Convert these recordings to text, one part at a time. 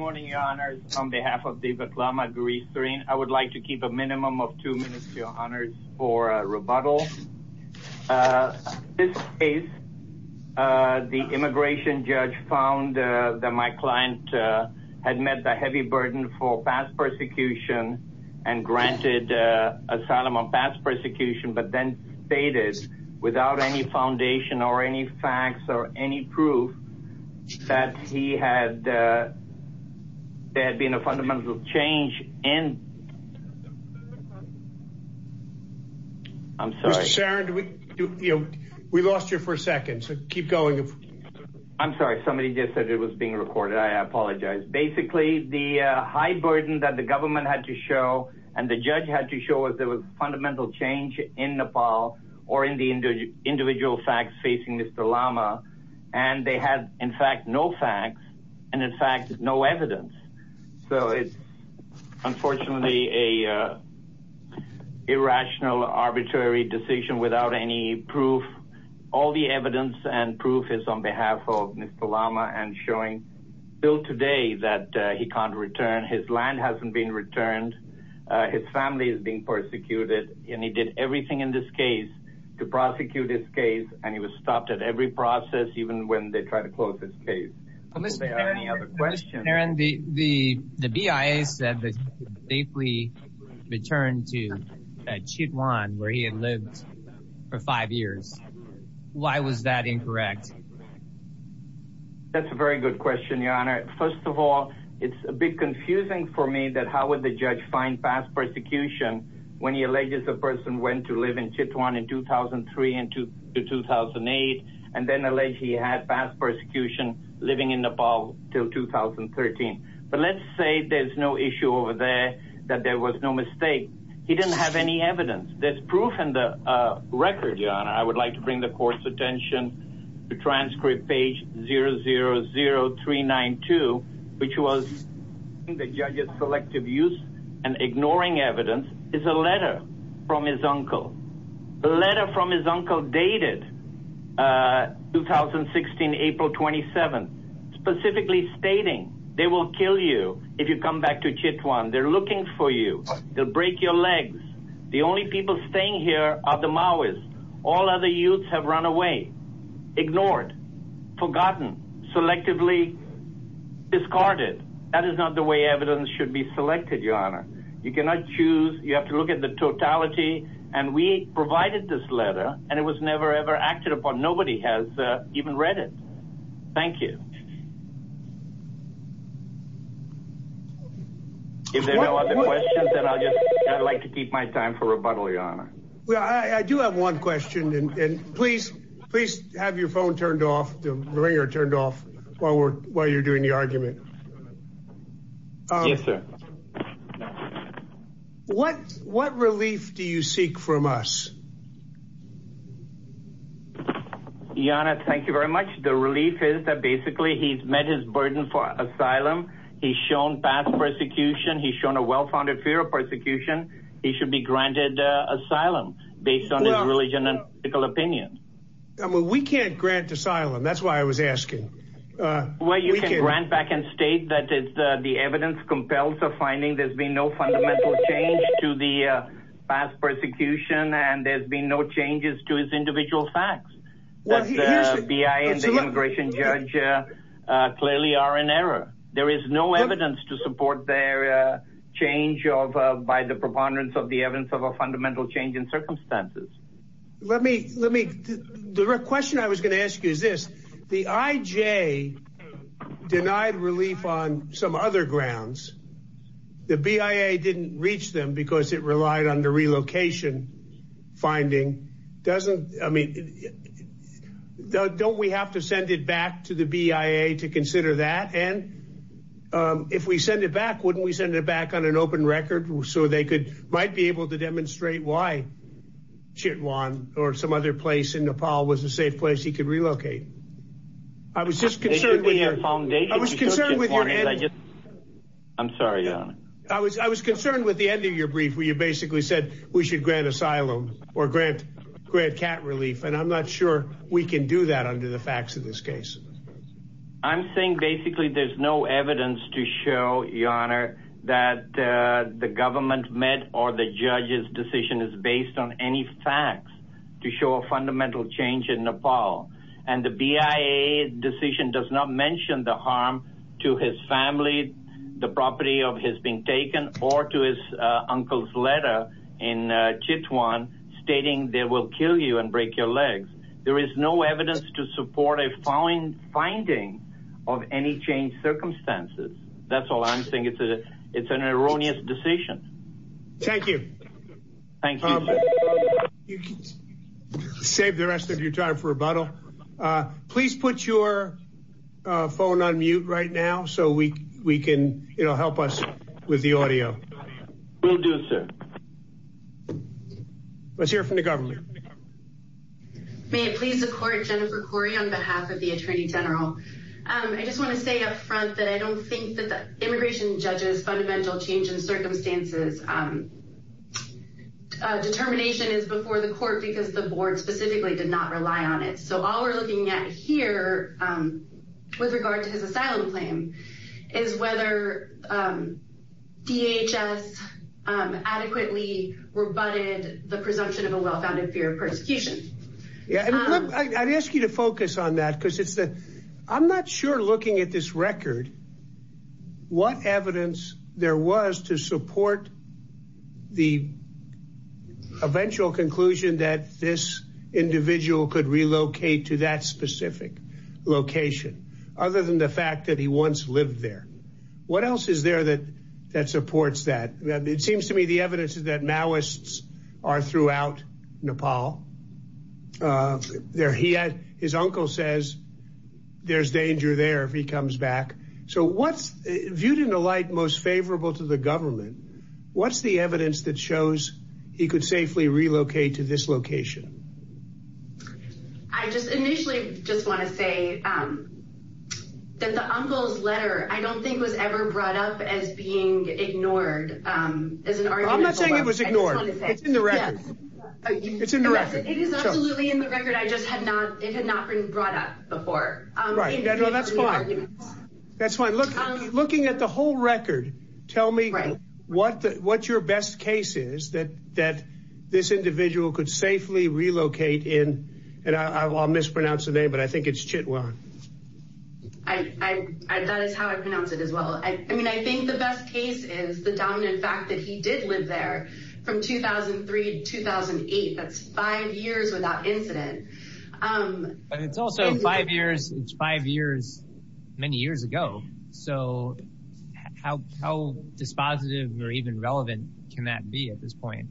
Good morning, Your Honors. On behalf of Devak Lama, Guree Serene, I would like to keep a minimum of two minutes, Your Honors, for a rebuttal. This case, the immigration judge found that my client had met the heavy burden for past persecution and granted asylum on past persecution, but then stated, without any foundation or any facts or any proof, that there had been a fundamental change in... I'm sorry. Mr. Serene, we lost you for a second, so keep going. I'm sorry. Somebody just said it was being recorded. I apologize. Basically, the high burden that the government had to show and the judge had to show was there was fundamental change in Nepal or in the individual facts facing Mr. Lama, and they had, in fact, no facts and, in fact, no evidence. So it's unfortunately an irrational, arbitrary decision without any proof. All the evidence and proof is on behalf of Mr. Lama and showing still today that he can't return. His land hasn't been returned. His family is being persecuted, and he did everything in this case to prosecute this case, and he was stopped at every process even when they tried to close this case. Are there any other questions? Aaron, the BIA said that he could safely return to Chitwan where he had lived for five years. Why was that incorrect? That's a very good question, Your Honor. First of all, it's a bit confusing for me that how would the judge find past persecution when he alleges a person went to live in Chitwan in 2003 to 2008 and then alleged he had past persecution living in Nepal till 2013. But let's say there's no issue over there that there was no mistake. He didn't have any evidence. There's proof in the record, Your Honor. I would like to bring the court's attention to transcript page 000392, which was the judge's selective use and ignoring evidence. It's a letter from his uncle. The letter from his uncle dated 2016, April 27th, specifically stating they will kill you if you come back to Chitwan. They're looking for you. They'll break your legs. The only people staying here are the Maoris. All other youths have run away, ignored, forgotten, selectively discarded. You cannot choose. You have to look at the totality. And we provided this letter, and it was never, ever acted upon. Nobody has even read it. Thank you. If there are no other questions, then I'd like to keep my time for rebuttal, Your Honor. I do have one question, and please have your phone turned off, the ringer turned off, while you're doing the argument. Yes, sir. What relief do you seek from us? Your Honor, thank you very much. The relief is that basically he's met his burden for asylum. He's shown past persecution. He's shown a well-founded fear of persecution. He should be granted asylum based on his religion and political opinion. We can't grant asylum. That's why I was asking. Well, you can grant back and state that the evidence compels a finding. There's been no fundamental change to the past persecution, and there's been no changes to his individual facts. The BIA and the immigration judge clearly are in error. There is no evidence to support their change by the preponderance of the evidence of a fundamental change in circumstances. The question I was going to ask you is this. The IJ denied relief on some other grounds. The BIA didn't reach them because it relied on the relocation finding. Don't we have to send it back to the BIA to consider that? And if we send it back, wouldn't we send it back on an open record so they might be able to demonstrate why Chitwan or some other place in Nepal was a safe place he could relocate? I was concerned with the end of your brief where you basically said we should grant asylum or grant cat relief, and I'm not sure we can do that under the facts of this case. I'm saying basically there's no evidence to show, Your Honor, that the government met or the judge's decision is based on any facts to show a fundamental change in Nepal. And the BIA decision does not mention the harm to his family, the property of his being taken, or to his uncle's letter in Chitwan stating they will kill you and break your legs. There is no evidence to support a finding of any changed circumstances. That's all I'm saying. It's an erroneous decision. Thank you. Thank you. Save the rest of your time for rebuttal. Please put your phone on mute right now so we can help us with the audio. Will do, sir. Let's hear from the governor. May it please the court, Jennifer Corey on behalf of the Attorney General. I just want to say up front that I don't think that the immigration judge's fundamental change in circumstances determination is before the court because the board specifically did not rely on it. So all we're looking at here with regard to his asylum claim is whether DHS adequately rebutted the presumption of a well-founded fear of persecution. I'd ask you to focus on that because I'm not sure looking at this record what evidence there was to support the eventual conclusion that this individual could relocate to that specific location other than the fact that he once lived there. What else is there that supports that? It seems to me the evidence is that Maoists are throughout Nepal. His uncle says there's danger there if he comes back. So what's viewed in the light most favorable to the government, what's the evidence that shows he could safely relocate to this location? I just initially just want to say that the uncle's letter I don't think was ever brought up as being ignored as an argument. I'm not saying it was ignored. It's in the record. It's in the record. It is absolutely in the record. I just had not. It had not been brought up before. That's fine. That's fine. Looking at the whole record, tell me what your best case is that this individual could safely relocate in, and I'll mispronounce the name, but I think it's Chitwan. That is how I pronounce it as well. I mean, I think the best case is the dominant fact that he did live there from 2003 to 2008. That's five years without incident. But it's also five years. It's five years many years ago. So how dispositive or even relevant can that be at this point?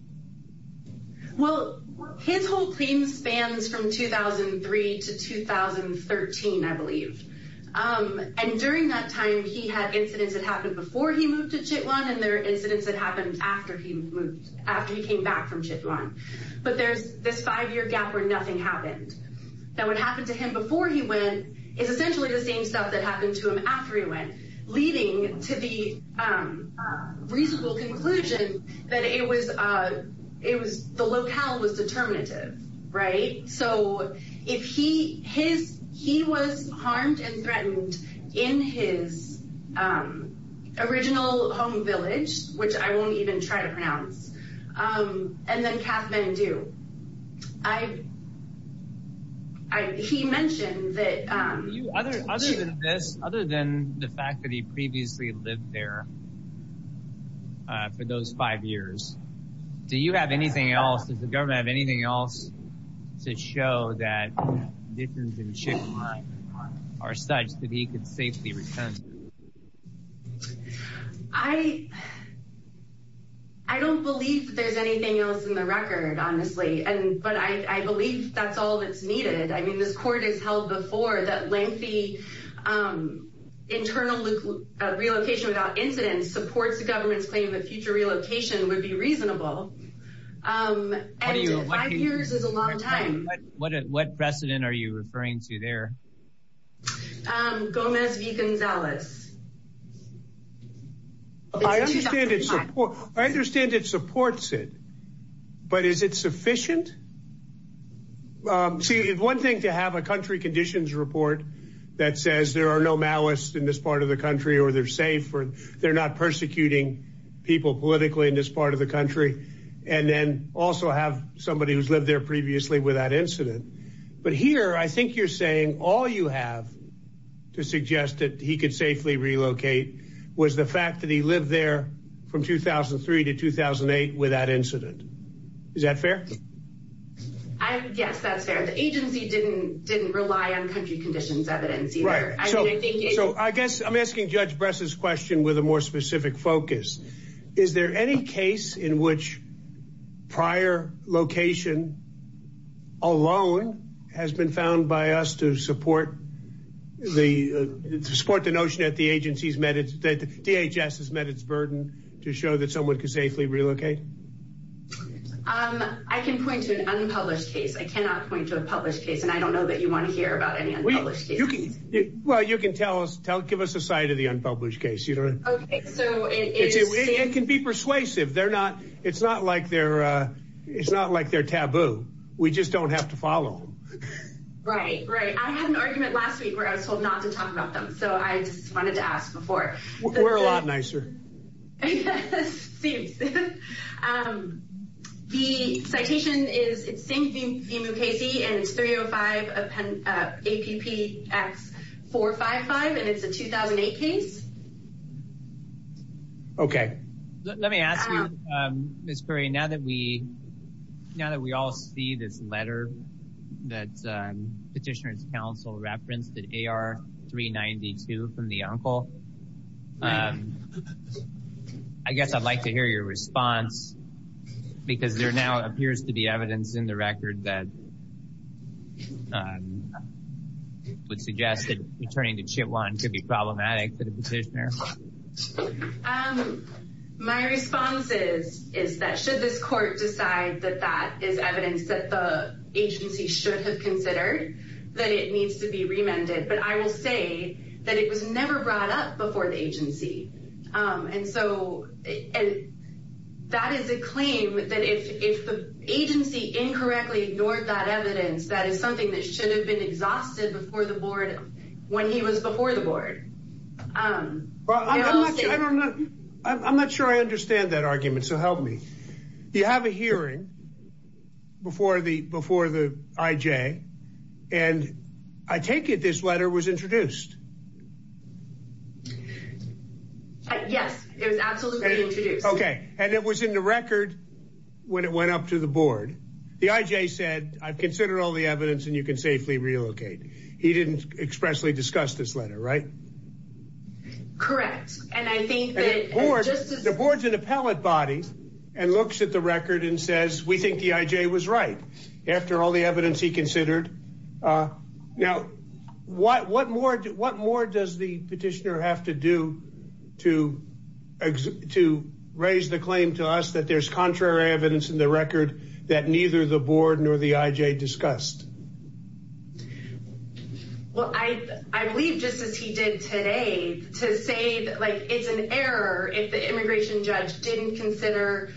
Well, his whole claim spans from 2003 to 2013, I believe. And during that time, he had incidents that happened before he moved to Chitwan, and there are incidents that happened after he moved, after he came back from Chitwan. But there's this five-year gap where nothing happened. Now, what happened to him before he went is essentially the same stuff that happened to him after he went, leading to the reasonable conclusion that the locale was determinative, right? So he was harmed and threatened in his original home village, which I won't even try to pronounce, and then Kathmandu. He mentioned that... Other than the fact that he previously lived there for those five years, do you have anything else? Does the government have anything else to show that the conditions in Chitwan are such that he could safely return? I don't believe there's anything else in the record, honestly. But I believe that's all that's needed. I mean, this court has held before that lengthy internal relocation without incidents supports the government's claim that future relocation would be reasonable. And five years is a long time. What precedent are you referring to there? Gomez v. Gonzalez. I understand it supports it, but is it sufficient? See, it's one thing to have a country conditions report that says there are no Maoists in this part of the country or they're safe or they're not persecuting people politically in this part of the country. And then also have somebody who's lived there previously without incident. But here, I think you're saying all you have to suggest that he could safely relocate was the fact that he lived there from 2003 to 2008 without incident. Is that fair? Yes, that's fair. The agency didn't didn't rely on country conditions evidence either. So I guess I'm asking Judge Bress's question with a more specific focus. Is there any case in which prior location alone has been found by us to support the to support the notion that the agency's met its that DHS has met its burden to show that someone could safely relocate? I can point to an unpublished case. I cannot point to a published case. And I don't know that you want to hear about it. Well, you can tell us. Tell give us a side of the unpublished case. So it can be persuasive. They're not. It's not like they're it's not like they're taboo. We just don't have to follow. Right, right. I had an argument last week where I was told not to talk about them. So I just wanted to ask before. We're a lot nicer. The citation is it's thinking Casey and it's 305 APPX four five five. And it's a 2008 case. Okay, let me ask you, Miss Curry. Now that we now that we all see this letter that petitioners counsel referenced that AR three ninety two from the uncle. I guess I'd like to hear your response because there now appears to be evidence in the record that would suggest that returning to chip one could be problematic for the petitioner. And my response is, is that should this court decide that that is evidence that the agency should have considered that it needs to be remanded. But I will say that it was never brought up before the agency. And so that is a claim that if the agency incorrectly ignored that evidence, that is something that should have been exhausted before the board when he was before the board. Well, I don't know. I'm not sure I understand that argument. So help me. You have a hearing before the before the IJ. And I take it this letter was introduced. Yes, it was absolutely OK. And it was in the record when it went up to the board. The IJ said, I've considered all the evidence and you can safely relocate. He didn't expressly discuss this letter. Right. Correct. And I think that the board's an appellate body and looks at the record and says, we think the IJ was right after all the evidence he considered. Now, what what more what more does the petitioner have to do to to raise the claim to us that there's contrary evidence in the record that neither the board nor the IJ discussed? Well, I I believe just as he did today to say that, like, it's an error if the immigration judge didn't consider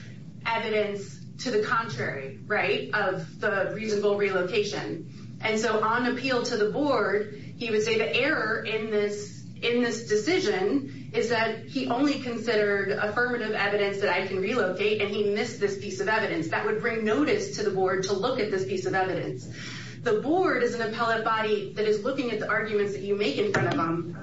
evidence to the contrary. Right. Of the reasonable relocation. And so on appeal to the board, he would say the error in this in this decision is that he only considered affirmative evidence that I can relocate. And he missed this piece of evidence that would bring notice to the board to look at this piece of evidence. The board is an appellate body that is looking at the arguments that you make in front of them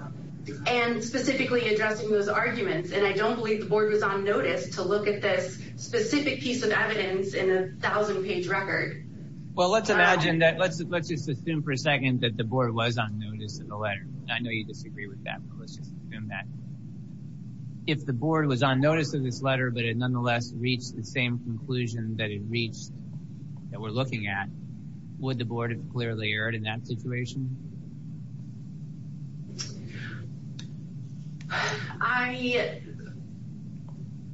and specifically addressing those arguments. And I don't believe the board was on notice to look at this specific piece of evidence in a thousand page record. Well, let's imagine that. Let's let's just assume for a second that the board was on notice of the letter. I know you disagree with that. Let's just assume that. If the board was on notice of this letter, but it nonetheless reached the same conclusion that it reached that we're looking at, would the board have clearly heard in that situation? I.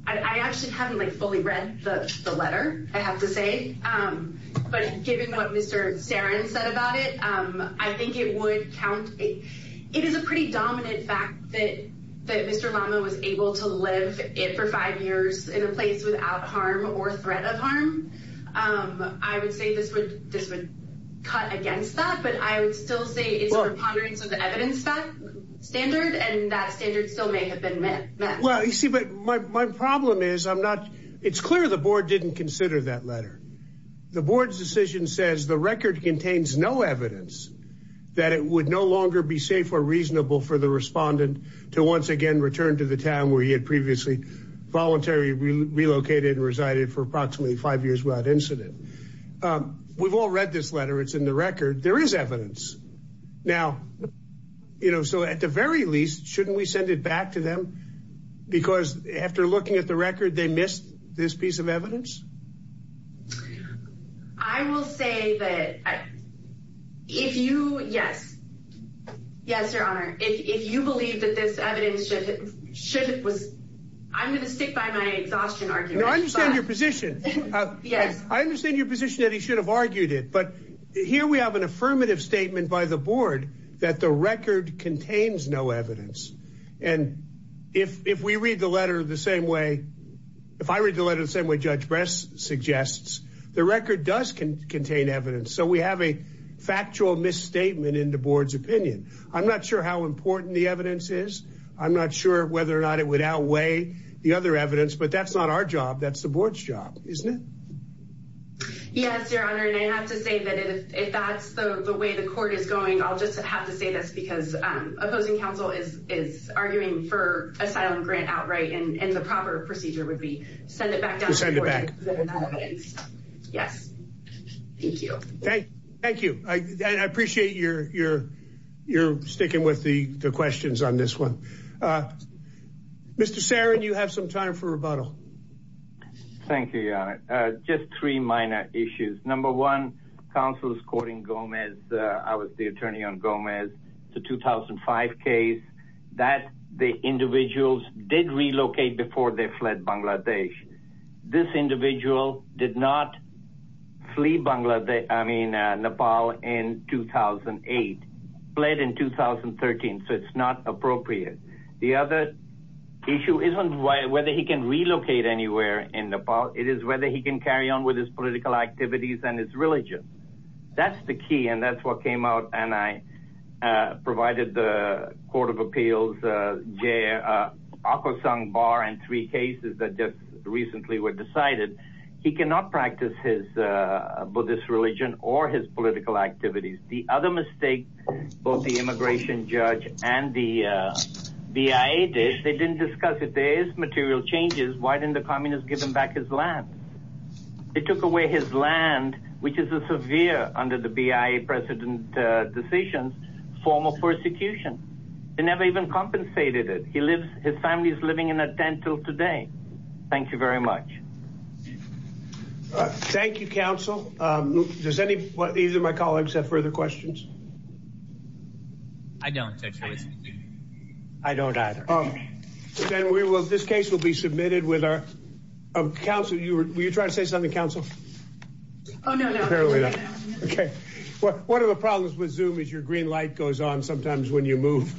I actually haven't fully read the letter, I have to say. But given what Mr. Seren said about it, I think it would count. It is a pretty dominant fact that that Mr. Mama was able to live it for five years in a place without harm or threat of harm. I would say this would this would cut against that. But I would still say it's a preponderance of the evidence standard. And that standard still may have been met. Well, you see, but my problem is I'm not. It's clear the board didn't consider that letter. The board's decision says the record contains no evidence that it would no longer be safe or reasonable for the respondent to once again return to the town where he had previously voluntary relocated, resided for approximately five years without incident. We've all read this letter. It's in the record. There is evidence now. You know, so at the very least, shouldn't we send it back to them? Because after looking at the record, they missed this piece of evidence. I will say that if you. Yes. Yes, your honor. If you believe that this evidence should it was I'm going to stick by my exhaustion. I understand your position. Yes, I understand your position that he should have argued it. But here we have an affirmative statement by the board that the record contains no evidence. And if if we read the letter the same way, if I read the letter the same way, Judge Bress suggests the record does contain evidence. So we have a factual misstatement in the board's opinion. I'm not sure how important the evidence is. I'm not sure whether or not it would outweigh the other evidence. But that's not our job. That's the board's job, isn't it? Yes, your honor. And I have to say that if that's the way the court is going, I'll just have to say this because opposing counsel is is arguing for asylum grant outright. And the proper procedure would be send it back to send it back. Yes. Thank you. Thank you. I appreciate your your your sticking with the questions on this one. Mr. Saron, you have some time for rebuttal. Thank you. Just three minor issues. Number one, counsel is courting Gomez. I was the attorney on Gomez to 2005 case that the individuals did relocate before they fled Bangladesh. This individual did not flee Bangladesh. I mean, Nepal in 2008, fled in 2013. So it's not appropriate. The other issue isn't whether he can relocate anywhere in Nepal. It is whether he can carry on with his political activities and his religion. That's the key. And that's what came out. And I provided the Court of Appeals. Jay Akosong Bar and three cases that just recently were decided. He cannot practice his Buddhist religion or his political activities. The other mistake, both the immigration judge and the BIA did, they didn't discuss it. There is material changes. Why didn't the communists give him back his land? They took away his land, which is a severe, under the BIA precedent decisions, form of persecution. They never even compensated it. His family is living in a tent till today. Thank you very much. Thank you, counsel. Does any of my colleagues have further questions? I don't. I don't either. This case will be submitted with our counsel. Were you trying to say something, counsel? Oh, no, no. One of the problems with Zoom is your green light goes on sometimes when you move.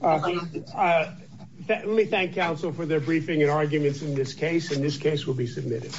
Let me thank counsel for their briefing and arguments in this case. And this case will be submitted.